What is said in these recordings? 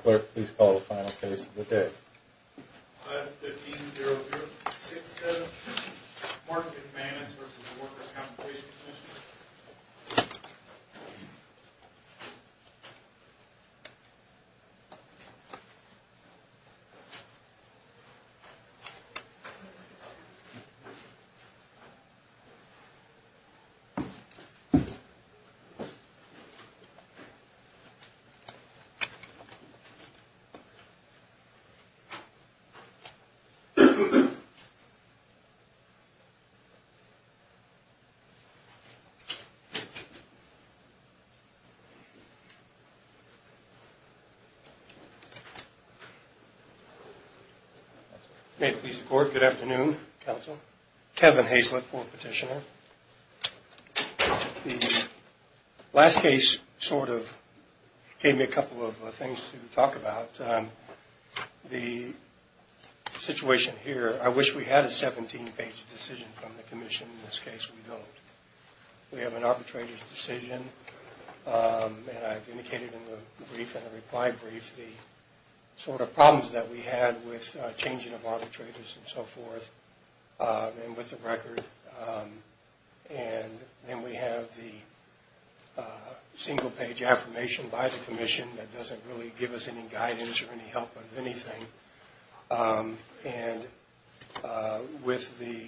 Clerk, please call the final case of the day. 5-15-0-0-6-7 Mark McManus v. Workers' Compensation Commission 5-15-0-0-6-7 Mark McManus v. Workers' Compensation Commission May it please the court, good afternoon, counsel. Kevin Hazlett, fourth petitioner. The last case sort of gave me a couple of things to talk about. The situation here, I wish we had a 17-page decision from the commission. In this case, we don't. We have an arbitrator's decision, and I've indicated in the brief and the reply brief the sort of problems that we had with changing of arbitrators and so forth and with the record. And then we have the single-page affirmation by the commission that doesn't really give us any guidance or any help with anything. And with the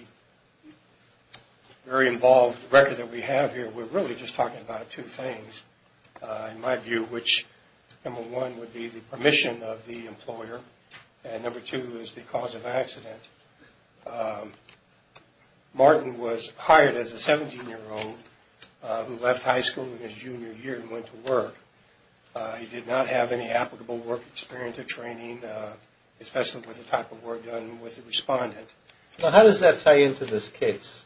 very involved record that we have here, we're really just talking about two things, in my view, which number one would be the permission of the employer, and number two is the cause of accident. Martin was hired as a 17-year-old who left high school in his junior year and went to work. He did not have any applicable work experience or training, especially with the type of work done with the respondent. Now, how does that tie into this case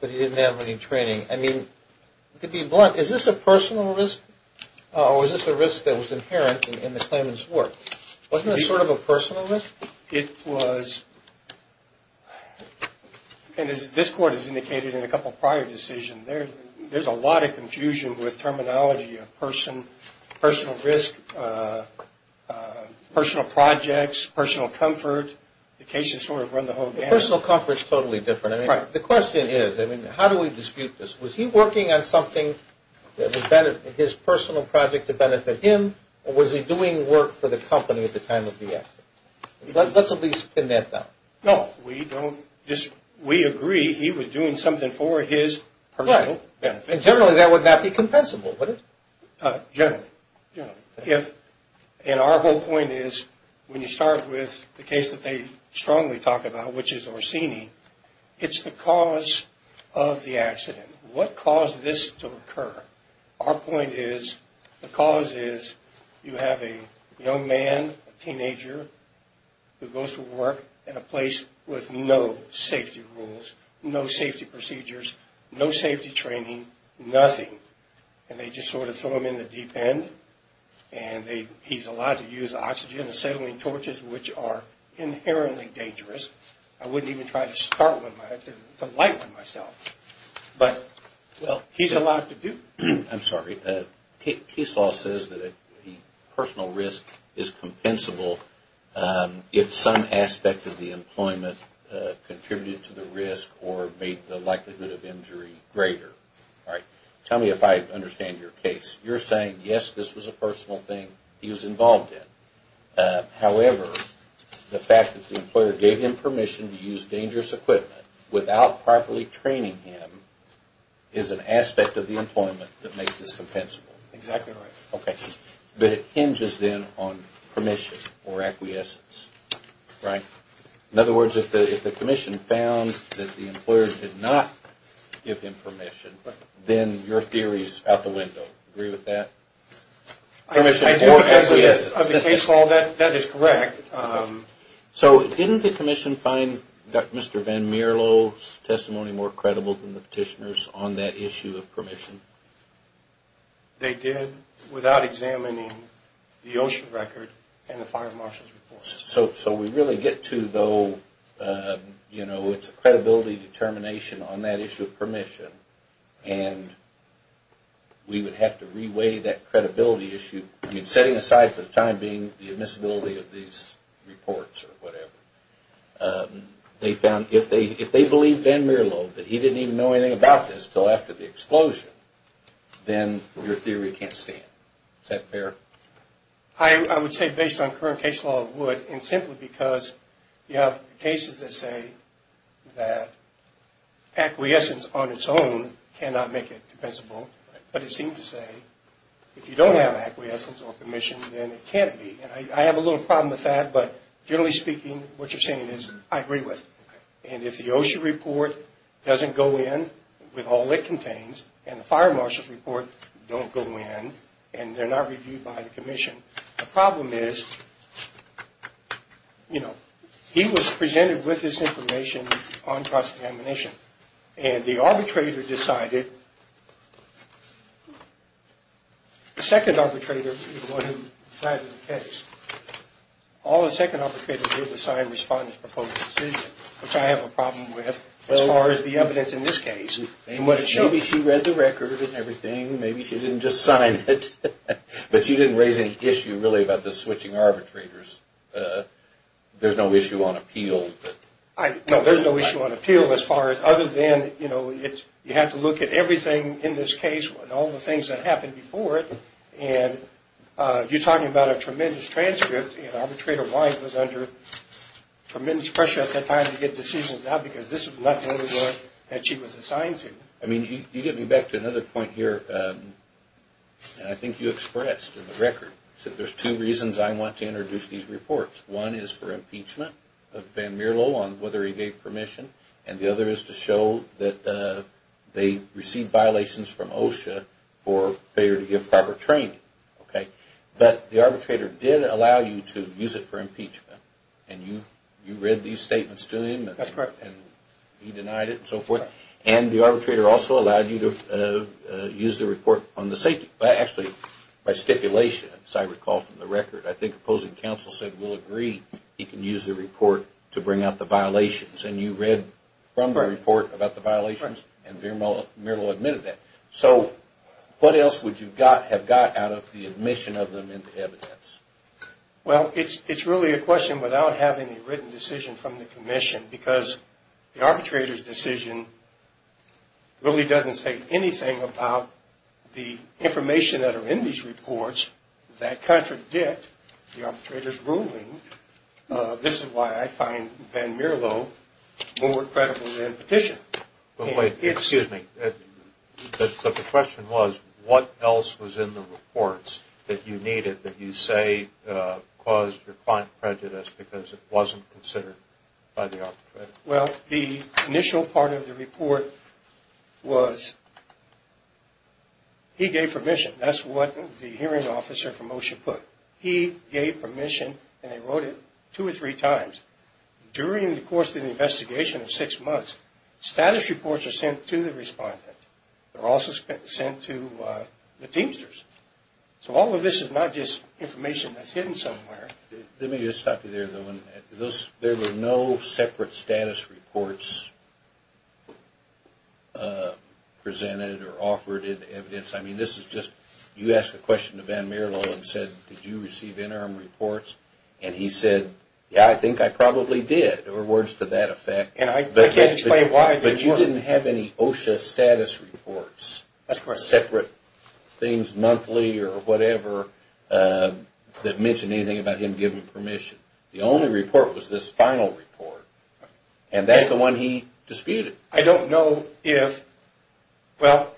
that he didn't have any training? I mean, to be blunt, is this a personal risk or was this a risk that was inherent in the claimant's work? Wasn't this sort of a personal risk? It was. And as this court has indicated in a couple of prior decisions, there's a lot of confusion with terminology of person, personal risk, personal projects, personal comfort. The cases sort of run the whole gamut. Personal comfort is totally different. Right. The question is, I mean, how do we dispute this? Was he working on something that was his personal project to benefit him, or was he doing work for the company at the time of the accident? Let's at least pin that down. No, we don't. We agree he was doing something for his personal benefit. Right. And generally that would not be compensable, would it? Generally, generally. And our whole point is when you start with the case that they strongly talk about, which is Orsini, What caused this to occur? Our point is the cause is you have a young man, a teenager, who goes to work at a place with no safety rules, no safety procedures, no safety training, nothing. And they just sort of throw him in the deep end, and he's allowed to use oxygen and acetylene torches, which are inherently dangerous. I wouldn't even try to start one, to light one myself. But he's allowed to do it. I'm sorry. Case law says that the personal risk is compensable if some aspect of the employment contributed to the risk or made the likelihood of injury greater. All right. Tell me if I understand your case. You're saying, yes, this was a personal thing he was involved in. However, the fact that the employer gave him permission to use dangerous equipment without properly training him is an aspect of the employment that makes this compensable. Exactly right. Okay. But it hinges, then, on permission or acquiescence, right? In other words, if the commission found that the employer did not give him permission, then your theory is out the window. Agree with that? Permission or acquiescence. On the case law, that is correct. So didn't the commission find Mr. Van Mierlo's testimony more credible than the petitioner's on that issue of permission? They did, without examining the OSHA record and the fire marshal's report. So we really get to, though, you know, it's a credibility determination on that issue of permission, and we would have to re-weigh that credibility issue. Setting aside for the time being the admissibility of these reports or whatever, they found if they believed Van Mierlo that he didn't even know anything about this until after the explosion, then your theory can't stand. Is that fair? I would say based on current case law it would, and simply because you have cases that say that acquiescence on its own cannot make it compensable, but it seems to say if you don't have acquiescence or permission, then it can't be. And I have a little problem with that, but generally speaking what you're saying is I agree with it. And if the OSHA report doesn't go in with all it contains, and the fire marshal's report don't go in, and they're not reviewed by the commission, the problem is, you know, he was presented with this information on cross-examination, and the arbitrator decided, the second arbitrator is the one who decided the case. All the second arbitrator did was sign the respondent's proposed decision, which I have a problem with as far as the evidence in this case. Maybe she read the record and everything. Maybe she didn't just sign it, but she didn't raise any issue really about the switching arbitrators. There's no issue on appeal. No, there's no issue on appeal as far as other than, you know, you have to look at everything in this case and all the things that happened before it, and you're talking about a tremendous transcript, and arbitrator Wise was under tremendous pressure at that time to get decisions out because this is not the only one that she was assigned to. I mean, you get me back to another point here, and I think you expressed in the record, that there's two reasons I want to introduce these reports. One is for impeachment of Van Mierlo on whether he gave permission, and the other is to show that they received violations from OSHA for failure to give proper training. Okay. But the arbitrator did allow you to use it for impeachment, and you read these statements to him. That's correct. And he denied it and so forth. Correct. And the arbitrator also allowed you to use the report on the safety, but actually by stipulation, as I recall from the record, I think opposing counsel said we'll agree he can use the report to bring out the violations, and you read from the report about the violations, and Van Mierlo admitted that. So what else would you have got out of the admission of them into evidence? Well, it's really a question without having a written decision from the commission because the arbitrator's decision really doesn't say anything about the information that are in these reports that contradict the arbitrator's ruling. This is why I find Van Mierlo more credible than the petition. Excuse me. The question was what else was in the reports that you needed that you say caused your client prejudice because it wasn't considered by the arbitrator? Well, the initial part of the report was he gave permission. That's what the hearing officer from OSHA put. He gave permission, and they wrote it two or three times. During the course of the investigation of six months, status reports are sent to the respondent. They're also sent to the teamsters. So all of this is not just information that's hidden somewhere. Let me just stop you there, though. There were no separate status reports presented or offered in evidence. I mean, this is just you ask a question to Van Mierlo and said, did you receive interim reports? And he said, yeah, I think I probably did, or words to that effect. And I can't explain why. But you didn't have any OSHA status reports, separate things monthly or whatever, that mentioned anything about him giving permission. The only report was this final report, and that's the one he disputed. I don't know if – well,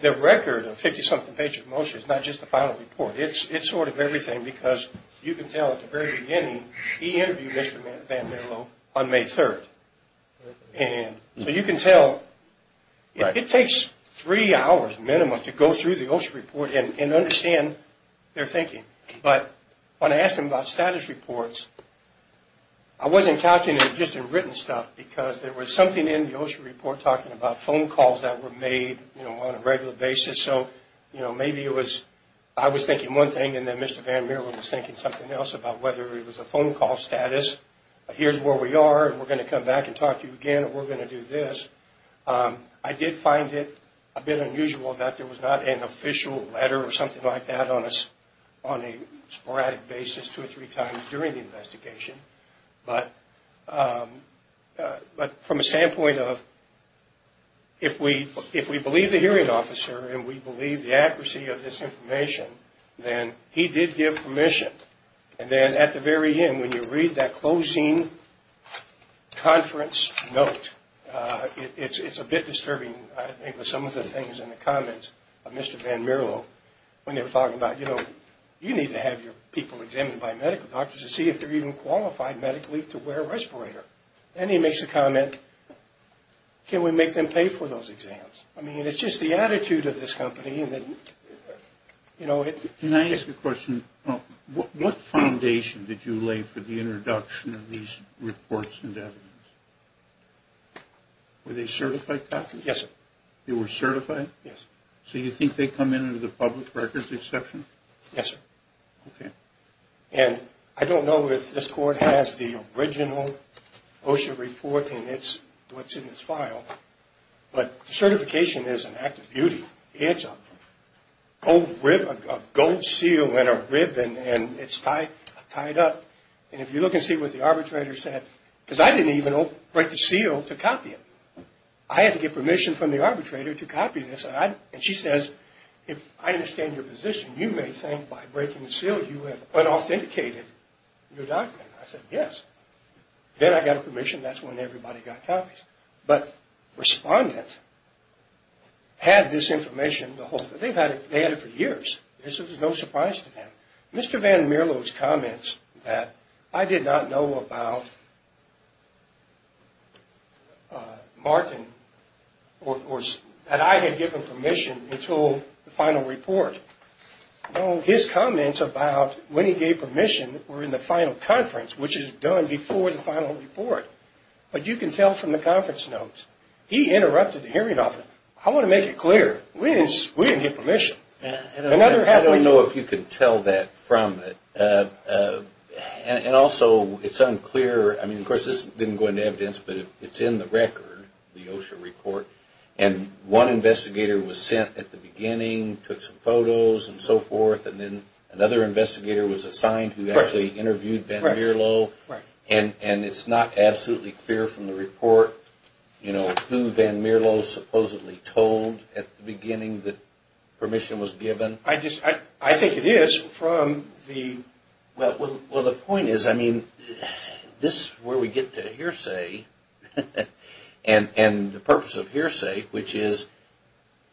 the record of 50-something pages of motion is not just the final report. It's sort of everything because you can tell at the very beginning he interviewed Mr. Van Mierlo on May 3rd. So you can tell – it takes three hours minimum to go through the OSHA report and understand their thinking. But when I asked him about status reports, I wasn't couching it just in written stuff because there was something in the OSHA report talking about phone calls that were made on a regular basis. So maybe it was I was thinking one thing and then Mr. Van Mierlo was thinking something else about whether it was a phone call status. Here's where we are, and we're going to come back and talk to you again, and we're going to do this. I did find it a bit unusual that there was not an official letter or something like that on a sporadic basis two or three times during the investigation. But from a standpoint of if we believe the hearing officer and we believe the accuracy of this information, then he did give permission. And then at the very end when you read that closing conference note, it's a bit disturbing I think with some of the things in the comments of Mr. Van Mierlo when they were talking about, you know, you need to have your people examined by medical doctors to see if they're even qualified medically to wear a respirator. Then he makes a comment, can we make them pay for those exams? I mean, it's just the attitude of this company. Can I ask a question? What foundation did you lay for the introduction of these reports and evidence? Were they certified, doctor? Yes, sir. They were certified? Yes, sir. So you think they come in under the public records exception? Yes, sir. Okay. And I don't know if this court has the original OSHA report and what's in its file, but certification is an act of beauty. It's a gold seal and a ribbon and it's tied up. And if you look and see what the arbitrator said, because I didn't even break the seal to copy it. I had to get permission from the arbitrator to copy this. And she says, I understand your position. You may think by breaking the seal you have unauthenticated your document. I said, yes. Then I got permission. That's when everybody got copies. But the respondent had this information the whole time. They had it for years. This was no surprise to them. Mr. Van Mierlo's comments that I did not know about Martin or that I had given permission until the final report, his comments about when he gave permission were in the final conference, which is done before the final report. But you can tell from the conference notes, he interrupted the hearing often. I want to make it clear. We didn't get permission. I don't know if you can tell that from it. And also, it's unclear. I mean, of course, this didn't go into evidence, but it's in the record, the OSHA report. And one investigator was sent at the beginning, took some photos and so forth, and then another investigator was assigned who actually interviewed Van Mierlo. And it's not absolutely clear from the report, you know, who Van Mierlo supposedly told at the beginning that permission was given. I think it is from the... Well, the point is, I mean, this is where we get to hearsay and the purpose of hearsay, which is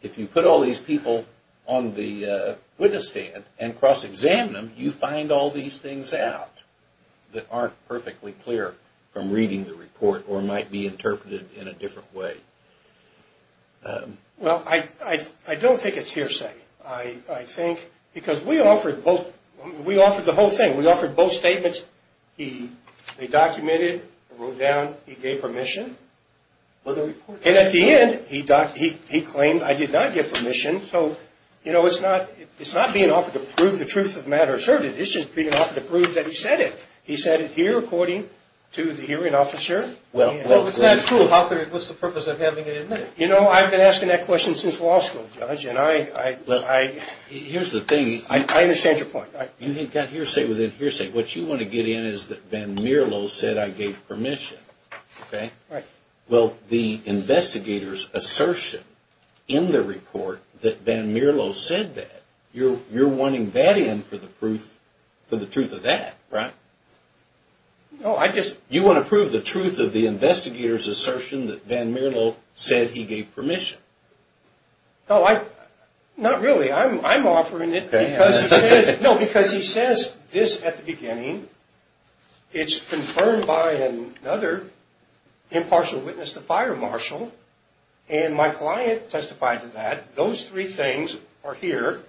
if you put all these people on the witness stand and cross-examine them, you find all these things out that aren't perfectly clear from reading the report or might be interpreted in a different way. Well, I don't think it's hearsay. I think because we offered both. We offered the whole thing. We offered both statements. They documented, wrote down, he gave permission. And at the end, he claimed, I did not give permission. So, you know, it's not being offered to prove the truth of the matter asserted. It's just being offered to prove that he said it. He said it here according to the hearing officer. Well, it's not true. What's the purpose of having it admitted? You know, I've been asking that question since law school, Judge, and I... Here's the thing. I understand your point. You've got hearsay within hearsay. What you want to get in is that Van Mierlo said I gave permission, okay? Right. Well, the investigator's assertion in the report that Van Mierlo said that, you're wanting that in for the truth of that, right? No, I just... You want to prove the truth of the investigator's assertion that Van Mierlo said he gave permission. No, not really. It's confirmed by another impartial witness, the fire marshal. And my client testified to that. Those three things are here.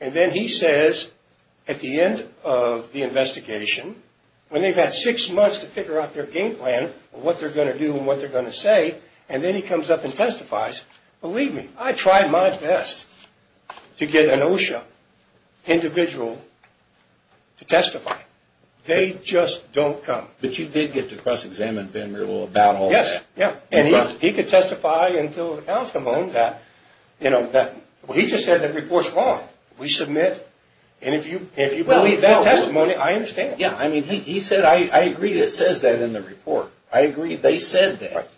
And then he says at the end of the investigation, when they've had six months to figure out their game plan, what they're going to do and what they're going to say, and then he comes up and testifies, believe me, I tried my best to get an OSHA individual to testify. They just don't come. But you did get to cross-examine Van Mierlo about all that. Yes, yeah. And he could testify until an outcome on that. He just said the report's wrong. We submit. And if you believe that testimony, I understand. Yeah, I mean, he said, I agree that it says that in the report. I agree they said that.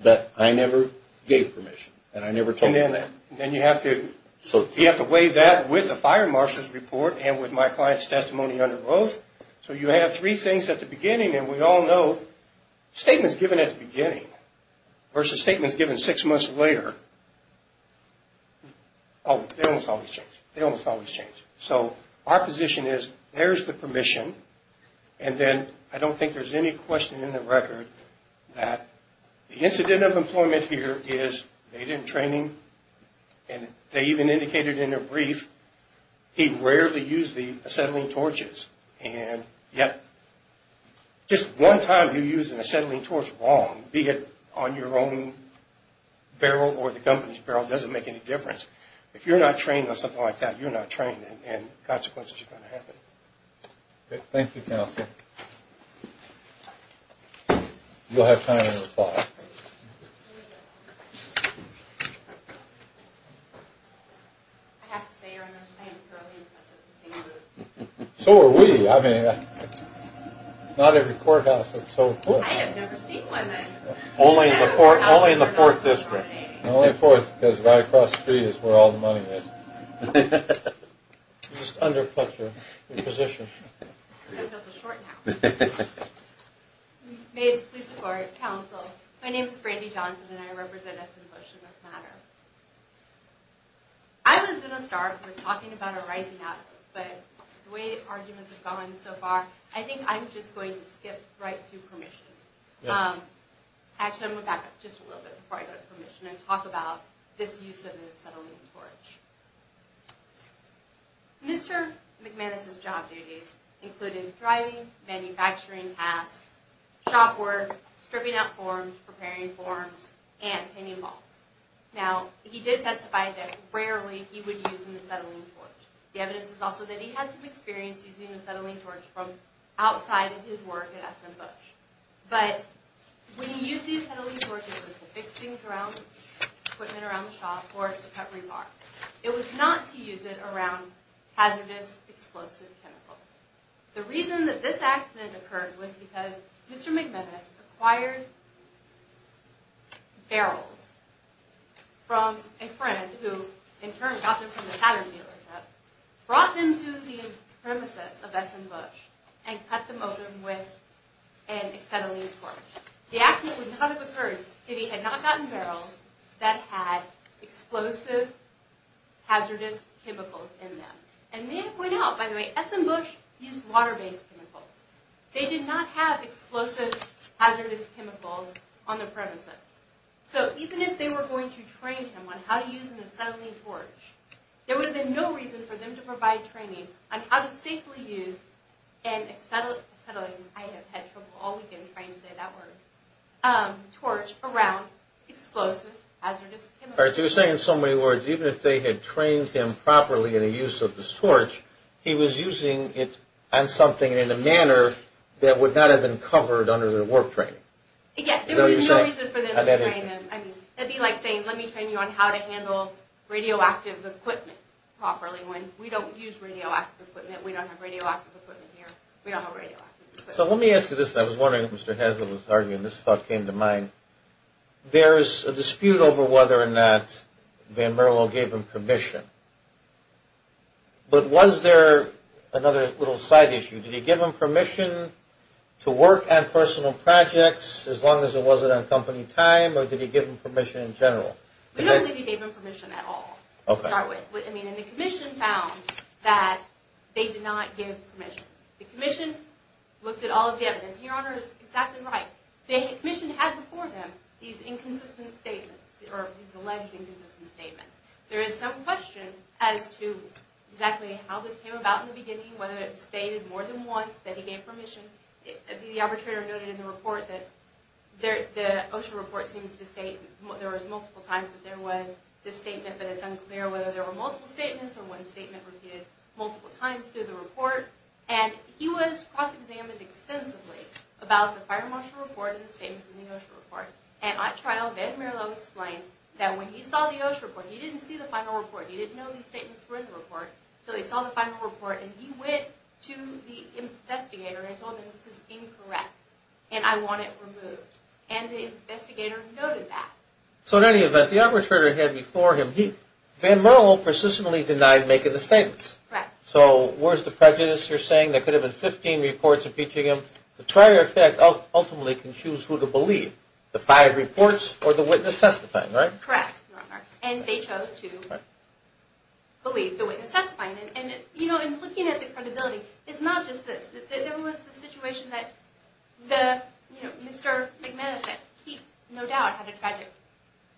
But I never gave permission, and I never told them that. Then you have to weigh that with the fire marshal's report and with my client's testimony under oath. So you have three things at the beginning, and we all know statements given at the beginning versus statements given six months later, they almost always change. So our position is there's the permission, and then I don't think there's any question in the record that the incident of employment here is they didn't train him, and they even indicated in their brief he rarely used the acetylene torches. And yet, just one time you used an acetylene torch wrong, be it on your own barrel or the company's barrel, doesn't make any difference. If you're not trained on something like that, you're not trained, and consequences are going to happen. Okay, thank you, counsel. You'll have time to reply. I have to say, your understanding is fairly impressive. So are we. I mean, it's not every courthouse that's so equipped. I have never seen one. Only in the fourth district. Only in the fourth, because right across the street is where all the money is. You just undercut your position. I feel so short now. May I please support counsel? My name is Brandy Johnson, and I represent us in Bush and this matter. I was going to start with talking about a rising up, but the way the arguments have gone so far, I think I'm just going to skip right to permission. Actually, I'm going to back up just a little bit before I go to permission and talk about this use of an acetylene torch. Mr. McManus's job duties included driving, manufacturing tasks, shop work, stripping out forms, preparing forms, and pinning balls. Now, he did testify that rarely he would use an acetylene torch. The evidence is also that he had some experience using an acetylene torch from outside of his work at SM Bush. But when he used the acetylene torch, it was to fix things around, equipment around the shop, or to cut rebar. It was not to use it around hazardous explosive chemicals. The reason that this accident occurred was because Mr. McManus acquired barrels from a friend who in turn got them from the pattern dealership, brought them to the premises of SM Bush, and cut them open with an acetylene torch. The accident would not have occurred if he had not gotten barrels that had explosive hazardous chemicals in them. And may I point out, by the way, SM Bush used water-based chemicals. They did not have explosive hazardous chemicals on their premises. So even if they were going to train him on how to use an acetylene torch, there would have been no reason for them to provide training on how to safely use an acetylene, I have had trouble all weekend trying to say that word, torch around explosive hazardous chemicals. All right, so you're saying in so many words, even if they had trained him properly in the use of this torch, he was using it on something in a manner that would not have been covered under the work training. Yes, there would be no reason for them to train him. I mean, it would be like saying, let me train you on how to handle radioactive equipment properly when we don't use radioactive equipment, we don't have radioactive equipment here, we don't have radioactive equipment. So let me ask you this, and I was wondering if Mr. Hazlitt was arguing, this thought came to mind. There is a dispute over whether or not Van Merlo gave him permission. But was there another little side issue? Did he give him permission to work on personal projects as long as it wasn't on company time, or did he give him permission in general? We don't think he gave him permission at all to start with. I mean, and the commission found that they did not give permission. The commission looked at all of the evidence, and your Honor is exactly right. The commission has before them these inconsistent statements, or alleged inconsistent statements. There is some question as to exactly how this came about in the beginning, whether it was stated more than once that he gave permission. The arbitrator noted in the report that the OSHA report seems to state there was multiple times that there was this statement, but it's unclear whether there were multiple statements, or one statement repeated multiple times through the report. And he was cross-examined extensively about the fire marshal report and the statements in the OSHA report. And at trial, Van Merlo explained that when he saw the OSHA report, he didn't see the final report, he didn't know these statements were in the report, so he saw the final report, and he went to the investigator and told him this is incorrect, and I want it removed. And the investigator noted that. So in any event, the arbitrator had before him, Van Merlo persistently denied making the statements. Correct. So where's the prejudice you're saying? There could have been 15 reports impeaching him. The trier effect ultimately can choose who to believe, the five reports or the witness testifying, right? Correct. And they chose to believe the witness testifying. And, you know, in looking at the credibility, it's not just this. There was the situation that Mr. McManus said, he no doubt had a tragic,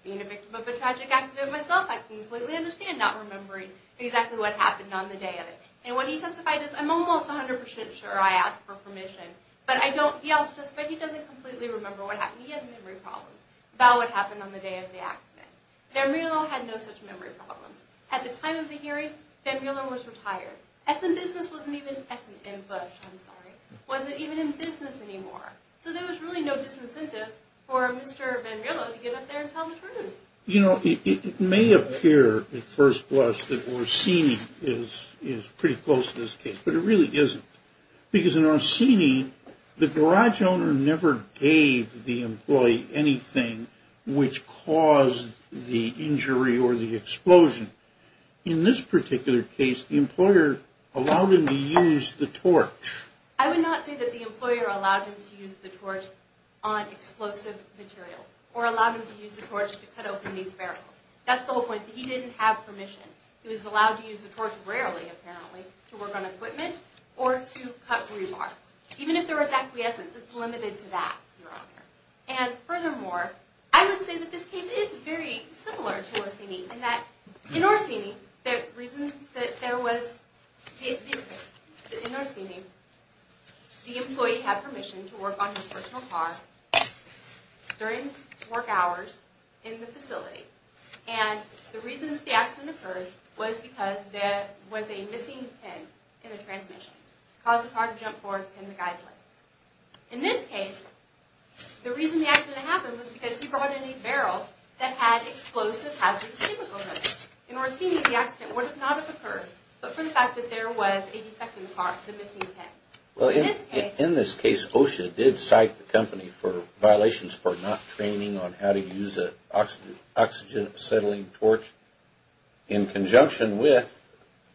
being a victim of a tragic accident myself, I completely understand not remembering exactly what happened on the day of it. And what he testified is, I'm almost 100% sure I asked for permission, but I don't, he also testified he doesn't completely remember what happened. He had memory problems about what happened on the day of the accident. Van Merlo had no such memory problems. At the time of the hearing, Van Merlo was retired. S&Business wasn't even, S&M Bush, I'm sorry, wasn't even in business anymore. So there was really no disincentive for Mr. Van Merlo to get up there and tell the truth. You know, it may appear at first glance that Orsini is pretty close to this case, but it really isn't. Because in Orsini, the garage owner never gave the employee anything which caused the injury or the explosion. In this particular case, the employer allowed him to use the torch. I would not say that the employer allowed him to use the torch on explosive materials, or allowed him to use the torch to cut open these barrels. That's the whole point, that he didn't have permission. He was allowed to use the torch rarely, apparently, to work on equipment or to cut rebar. Even if there was acquiescence, it's limited to that, Your Honor. And furthermore, I would say that this case is very similar to Orsini, in that in Orsini, the reason that there was... In Orsini, the employee had permission to work on his personal car during work hours in the facility. And the reason that the accident occurred was because there was a missing pin in the transmission. It caused the car to jump forward and pin the guy's legs. In this case, the reason the accident happened was because he brought in a barrel that had explosive hazard chemicals in it. In Orsini, the accident would not have occurred, but for the fact that there was a defecting car, the missing pin. In this case, OSHA did cite the company for violations for not training on how to use an oxygen-acetylene torch in conjunction with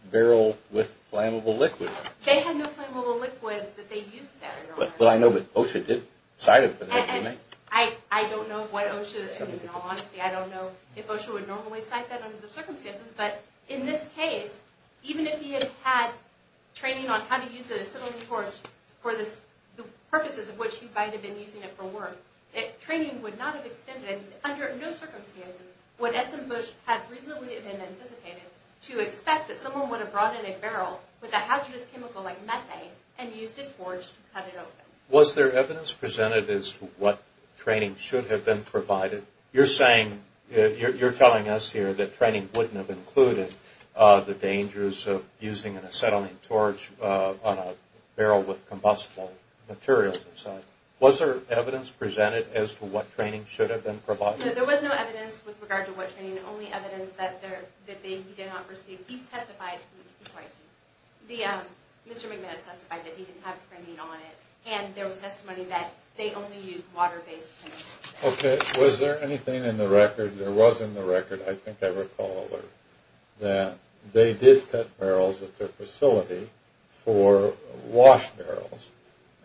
a barrel with flammable liquid. They had no flammable liquid that they used, Your Honor. But I know that OSHA did cite it. I don't know what OSHA... In all honesty, I don't know if OSHA would normally cite that under the circumstances. But in this case, even if he had had training on how to use an acetylene torch for the purposes of which he might have been using it for work, training would not have extended. Under no circumstances would S.M. Bush have reasonably been anticipated to expect that someone would have brought in a barrel with a hazardous chemical like methane and used a torch to cut it open. Was there evidence presented as to what training should have been provided? You're saying... You're telling us here that training wouldn't have included the dangers of using an acetylene torch on a barrel with combustible materials inside. Was there evidence presented as to what training should have been provided? No, there was no evidence with regard to what training. The only evidence that he did not receive... He testified... Sorry. Mr. McMahon testified that he didn't have training on it. And there was testimony that they only used water-based chemicals. Okay. Was there anything in the record... There was in the record, I think I recall, that they did cut barrels at their facility for wash barrels.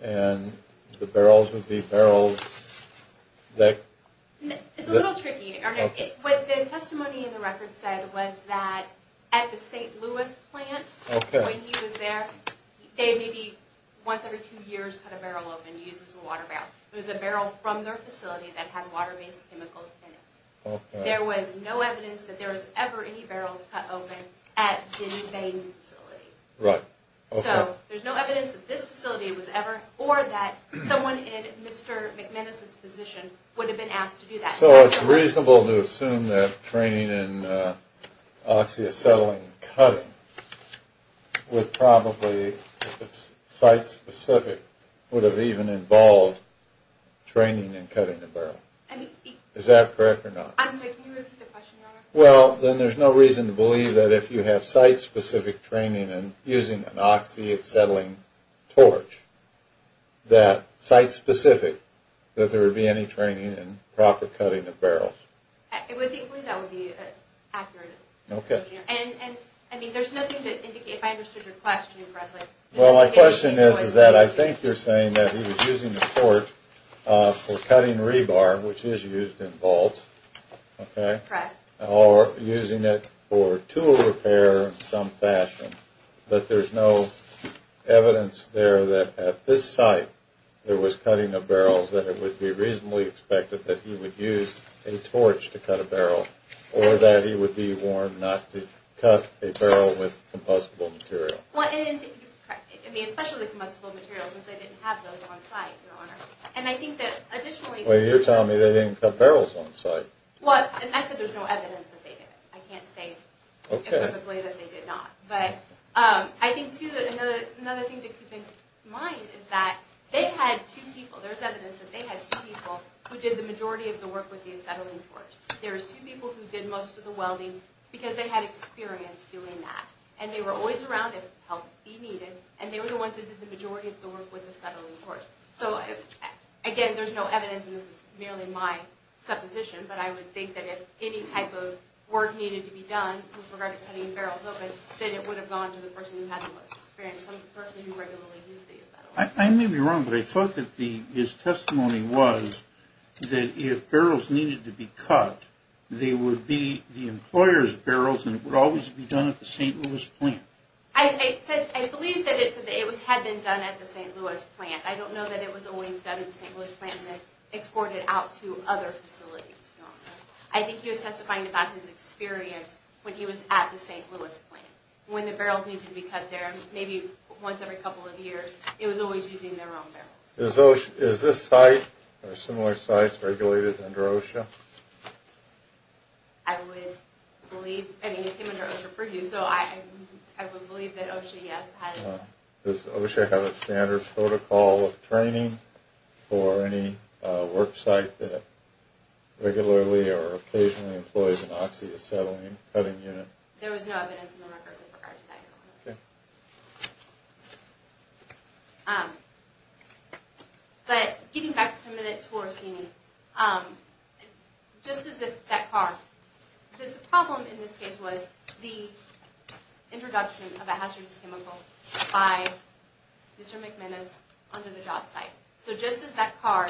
And the barrels would be barrels that... It's a little tricky. What the testimony in the record said was that at the St. Louis plant, when he was there, they maybe once every two years cut a barrel open to use as a water barrel. It was a barrel from their facility that had water-based chemicals in it. There was no evidence that there was ever any barrels cut open at any facility. Right. Okay. So there's no evidence that this facility was ever... Or that someone in Mr. McManus's position would have been asked to do that. So it's reasonable to assume that training in oxy-acetylene cutting would probably, site-specific, would have even involved training in cutting a barrel. Is that correct or not? I'm sorry, can you repeat the question, Your Honor? Well, then there's no reason to believe that if you have site-specific training in using an oxy-acetylene torch, that site-specific, that there would be any training in proper cutting of barrels. I believe that would be accurate. Okay. And I mean, there's nothing to indicate... If I understood your question correctly... Well, my question is that I think you're saying that he was using the torch for cutting rebar, which is used in vaults. Correct. Or using it for tool repair in some fashion. But there's no evidence there that at this site there was cutting of barrels that it would be reasonably expected that he would use a torch to cut a barrel. Or that he would be warned not to cut a barrel with combustible material. Well, and... I mean, especially combustible materials, since they didn't have those on site, Your Honor. And I think that additionally... Well, you're telling me they didn't cut barrels on site. Well, and I said there's no evidence that they did. I can't say... Okay. ...that they did not. But I think, too, that another thing to keep in mind is that they had two people. There's evidence that they had two people who did the majority of the work with the acetylene torch. There was two people who did most of the welding because they had experience doing that. And they were always around if help be needed. And they were the ones who did the majority of the work with the acetylene torch. So, again, there's no evidence, and this is merely my supposition, but I would think that if any type of work needed to be done with regard to cutting barrels open, then it would have gone to the person who had the most experience, some person who regularly used the acetylene torch. I may be wrong, but I thought that his testimony was that if barrels needed to be cut, they would be the employer's barrels, and it would always be done at the St. Louis plant. I believe that it had been done at the St. Louis plant. I don't know that it was always done at the St. Louis plant and then exported out to other facilities. I think he was testifying about his experience when he was at the St. Louis plant. When the barrels needed to be cut there, maybe once every couple of years, it was always using their own barrels. Is this site, or similar sites, regulated under OSHA? I would believe, I mean, it came under OSHA for use, so I would believe that OSHA, yes. Does OSHA have a standard protocol of training for any work site that regularly or occasionally employs an oxy-acetylene cutting unit? There was no evidence in the record with regard to that. Okay. But getting back for a minute to Orsini, just as if that car, the problem in this case was the introduction of a hazardous chemical by Mr. McManus under the job site. So just as that car,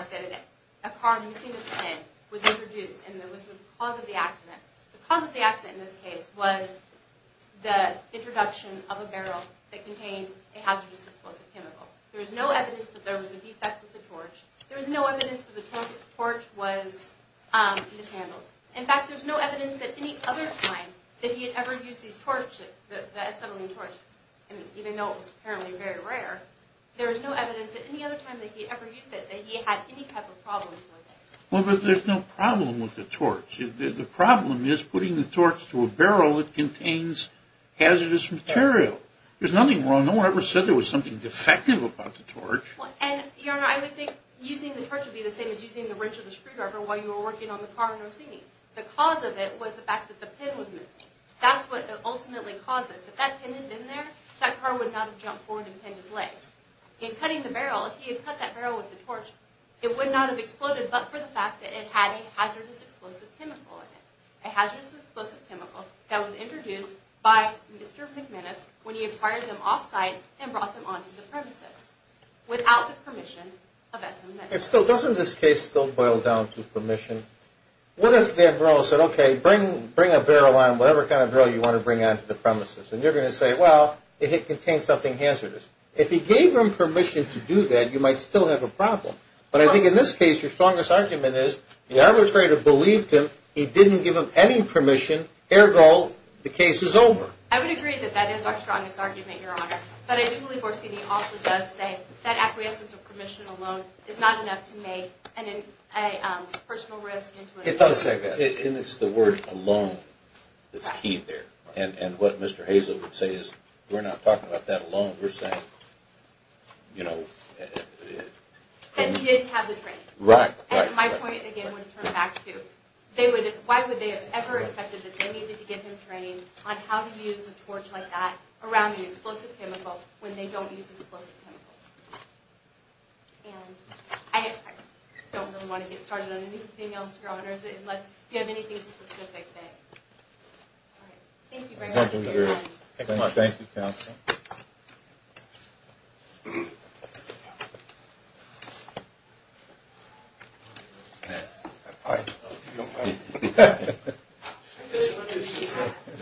a car missing its head, was introduced and there was the cause of the accident, the cause of the accident in this case was the introduction of a barrel that contained a hazardous explosive chemical. There was no evidence that there was a defect with the torch. There was no evidence that the torch was mishandled. In fact, there was no evidence that any other time that he had ever used these torches, the acetylene torch, even though it was apparently very rare, there was no evidence that any other time that he had ever used it that he had any type of problems with it. Well, but there's no problem with the torch. The problem is putting the torch to a barrel that contains hazardous material. There's nothing wrong. No one ever said there was something defective about the torch. Well, and, Your Honor, I would think using the torch would be the same as using the wrench of the screwdriver while you were working on the car and overseeing. The cause of it was the fact that the pin was missing. That's what ultimately caused this. If that pin had been there, that car would not have jumped forward and pinned its legs. In cutting the barrel, if he had cut that barrel with the torch, it would not have exploded but for the fact that it had a hazardous explosive chemical in it, a hazardous explosive chemical that was introduced by Mr. McManus when he acquired them off-site and brought them onto the premises. Without the permission of S&M. Still, doesn't this case still boil down to permission? What if that barrel said, okay, bring a barrel on, whatever kind of barrel you want to bring onto the premises, and you're going to say, well, it contains something hazardous. If he gave them permission to do that, you might still have a problem. But I think in this case, your strongest argument is the arbitrator believed him. He didn't give them any permission. Ergo, the case is over. I would agree that that is our strongest argument, Your Honor. But I do believe Orsini also does say that acquiescence of permission alone is not enough to make a personal risk. It does say that. And it's the word alone that's key there. And what Mr. Hazel would say is, we're not talking about that alone. We're saying, you know. That he did have the training. Right. And my point, again, would turn back to, why would they have ever expected that they needed to give him training on how to use a torch like that around an explosive chemical when they don't use explosive chemicals? And I don't really want to get started on anything else, Your Honor, unless you have anything specific that... Thank you very much. Thank you, Counsel. Thank you, Counsel.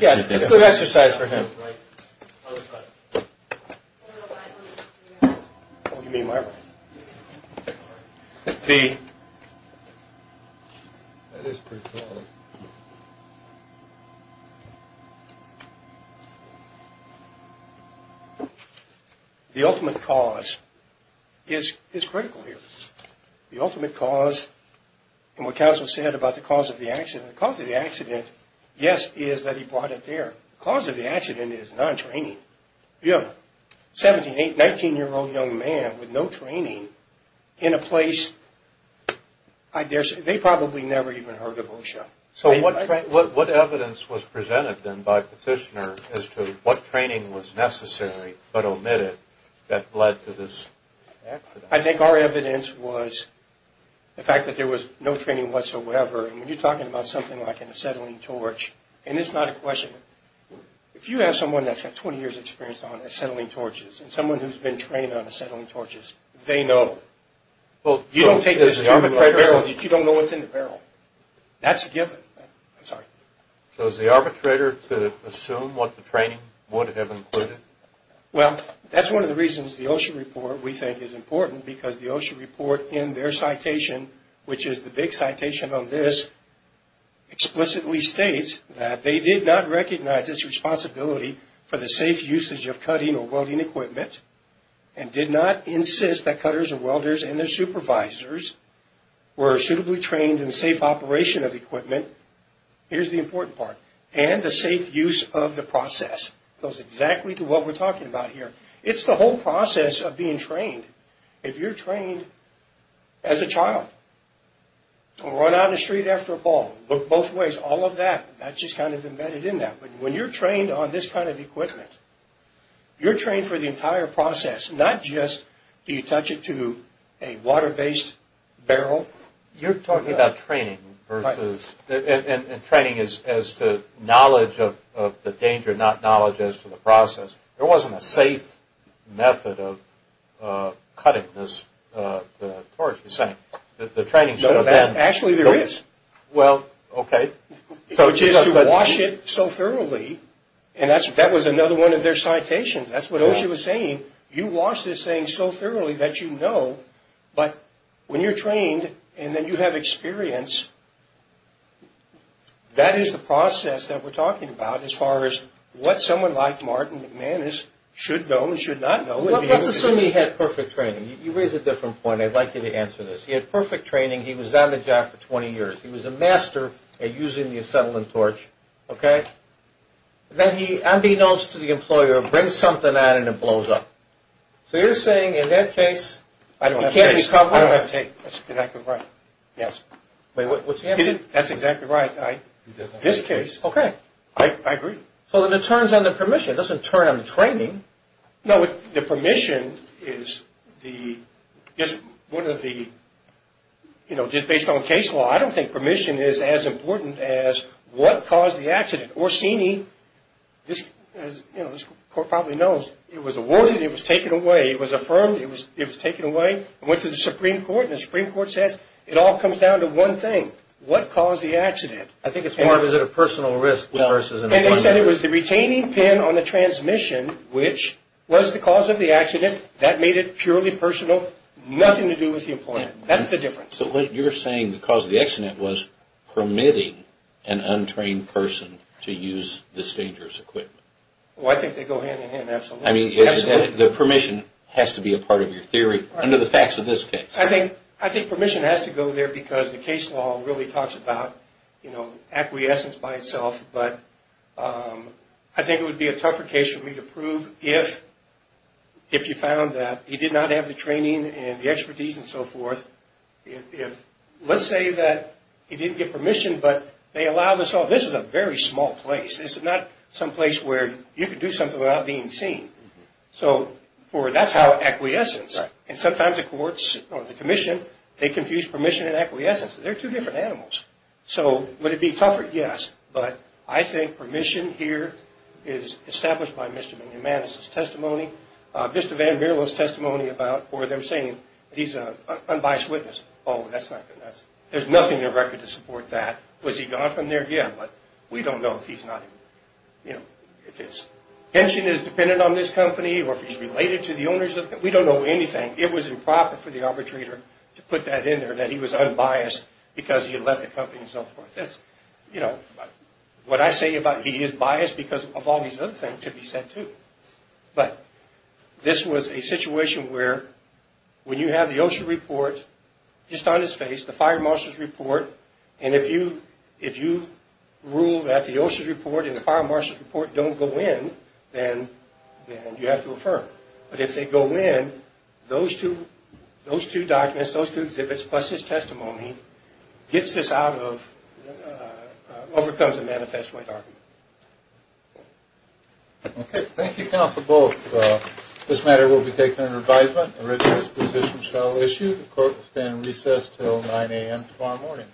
Yes, it's good exercise for him. The ultimate cause is critical here. The ultimate cause, and what Counsel said about the cause of the accident, the cause of the accident, yes, is that he brought it there. But the cause of the accident is non-training. You have a 17, 18, 19-year-old young man with no training in a place, they probably never even heard of OSHA. So what evidence was presented then by Petitioner as to what training was necessary but omitted that led to this accident? I think our evidence was the fact that there was no training whatsoever. And when you're talking about something like an acetylene torch, and it's not a question, if you have someone that's got 20 years' experience on acetylene torches and someone who's been trained on acetylene torches, they know. You don't take this to the barrel. You don't know what's in the barrel. That's a given. I'm sorry. So is the arbitrator to assume what the training would have included? Well, that's one of the reasons the OSHA report, we think, is important, because the OSHA report in their citation, which is the big citation on this, explicitly states that they did not recognize its responsibility for the safe usage of cutting or welding equipment and did not insist that cutters or welders and their supervisors were suitably trained in safe operation of equipment. Here's the important part. And the safe use of the process. It goes exactly to what we're talking about here. It's the whole process of being trained. If you're trained as a child to run out in the street after a ball, look both ways, all of that, that's just kind of embedded in that. But when you're trained on this kind of equipment, you're trained for the entire process, not just do you touch it to a water-based barrel. You're talking about training and training as to knowledge of the danger, not knowledge as to the process. There wasn't a safe method of cutting, as Torres was saying. The training should have been. Actually, there is. Well, okay. Which is to wash it so thoroughly, and that was another one of their citations. That's what OSHA was saying. You wash this thing so thoroughly that you know. But when you're trained and then you have experience, that is the process that we're talking about as far as what someone like Martin McManus should know and should not know. Let's assume he had perfect training. You raise a different point. I'd like you to answer this. He had perfect training. He was on the job for 20 years. He was a master at using the acetylene torch, okay? Then he, unbeknownst to the employer, brings something on and it blows up. So you're saying in that case, he can't recover. I don't have a case. I don't have a case. That's exactly right. Yes. Wait, what's the answer? That's exactly right. He doesn't have a case. This case. Okay. I agree. So then it turns on the permission. It doesn't turn on the training. No, the permission is one of the, you know, just based on case law, I don't think permission is as important as what caused the accident. Orsini, as this court probably knows, it was awarded, it was taken away, it was affirmed, it was approved, it was taken away and went to the Supreme Court. And the Supreme Court says it all comes down to one thing, what caused the accident. I think it's more of is it a personal risk versus an employment risk. And they said it was the retaining pin on the transmission, which was the cause of the accident. That made it purely personal, nothing to do with the employer. That's the difference. So what you're saying, the cause of the accident was permitting an untrained person to use this dangerous equipment. Well, I think they go hand in hand, absolutely. I mean, the permission has to be a part of your theory under the facts of this case. I think permission has to go there because the case law really talks about, you know, acquiescence by itself. But I think it would be a tougher case for me to prove if you found that he did not have the training and the expertise and so forth. If, let's say that he didn't get permission, but they allowed us all, this is a very small place. This is not some place where you could do something without being seen. So that's how acquiescence. And sometimes the courts or the commission, they confuse permission and acquiescence. They're two different animals. So would it be tougher? Yes. But I think permission here is established by Mr. Menemanis' testimony, Mr. Van Mierle's testimony about, or them saying he's an unbiased witness. Oh, that's not good. There's nothing in the record to support that. Was he gone from there? Yeah, but we don't know if he's not, you know, if his pension is dependent on this company or if he's related to the owners of the company. We don't know anything. It was improper for the arbitrator to put that in there that he was unbiased because he had left the company and so forth. That's, you know, what I say about he is biased because of all these other things could be said too. But this was a situation where when you have the OSHA report just on his face, the fire marshal's report, and if you rule that the OSHA report and the fire marshal's report don't go in, then you have to affirm. But if they go in, those two documents, those two exhibits, plus his testimony, gets this out of, overcomes a manifest white argument. Okay. Thank you, counsel, both. This matter will be taken under advisement. The written disposition shall issue. The court will stand in recess until 9 a.m. tomorrow morning.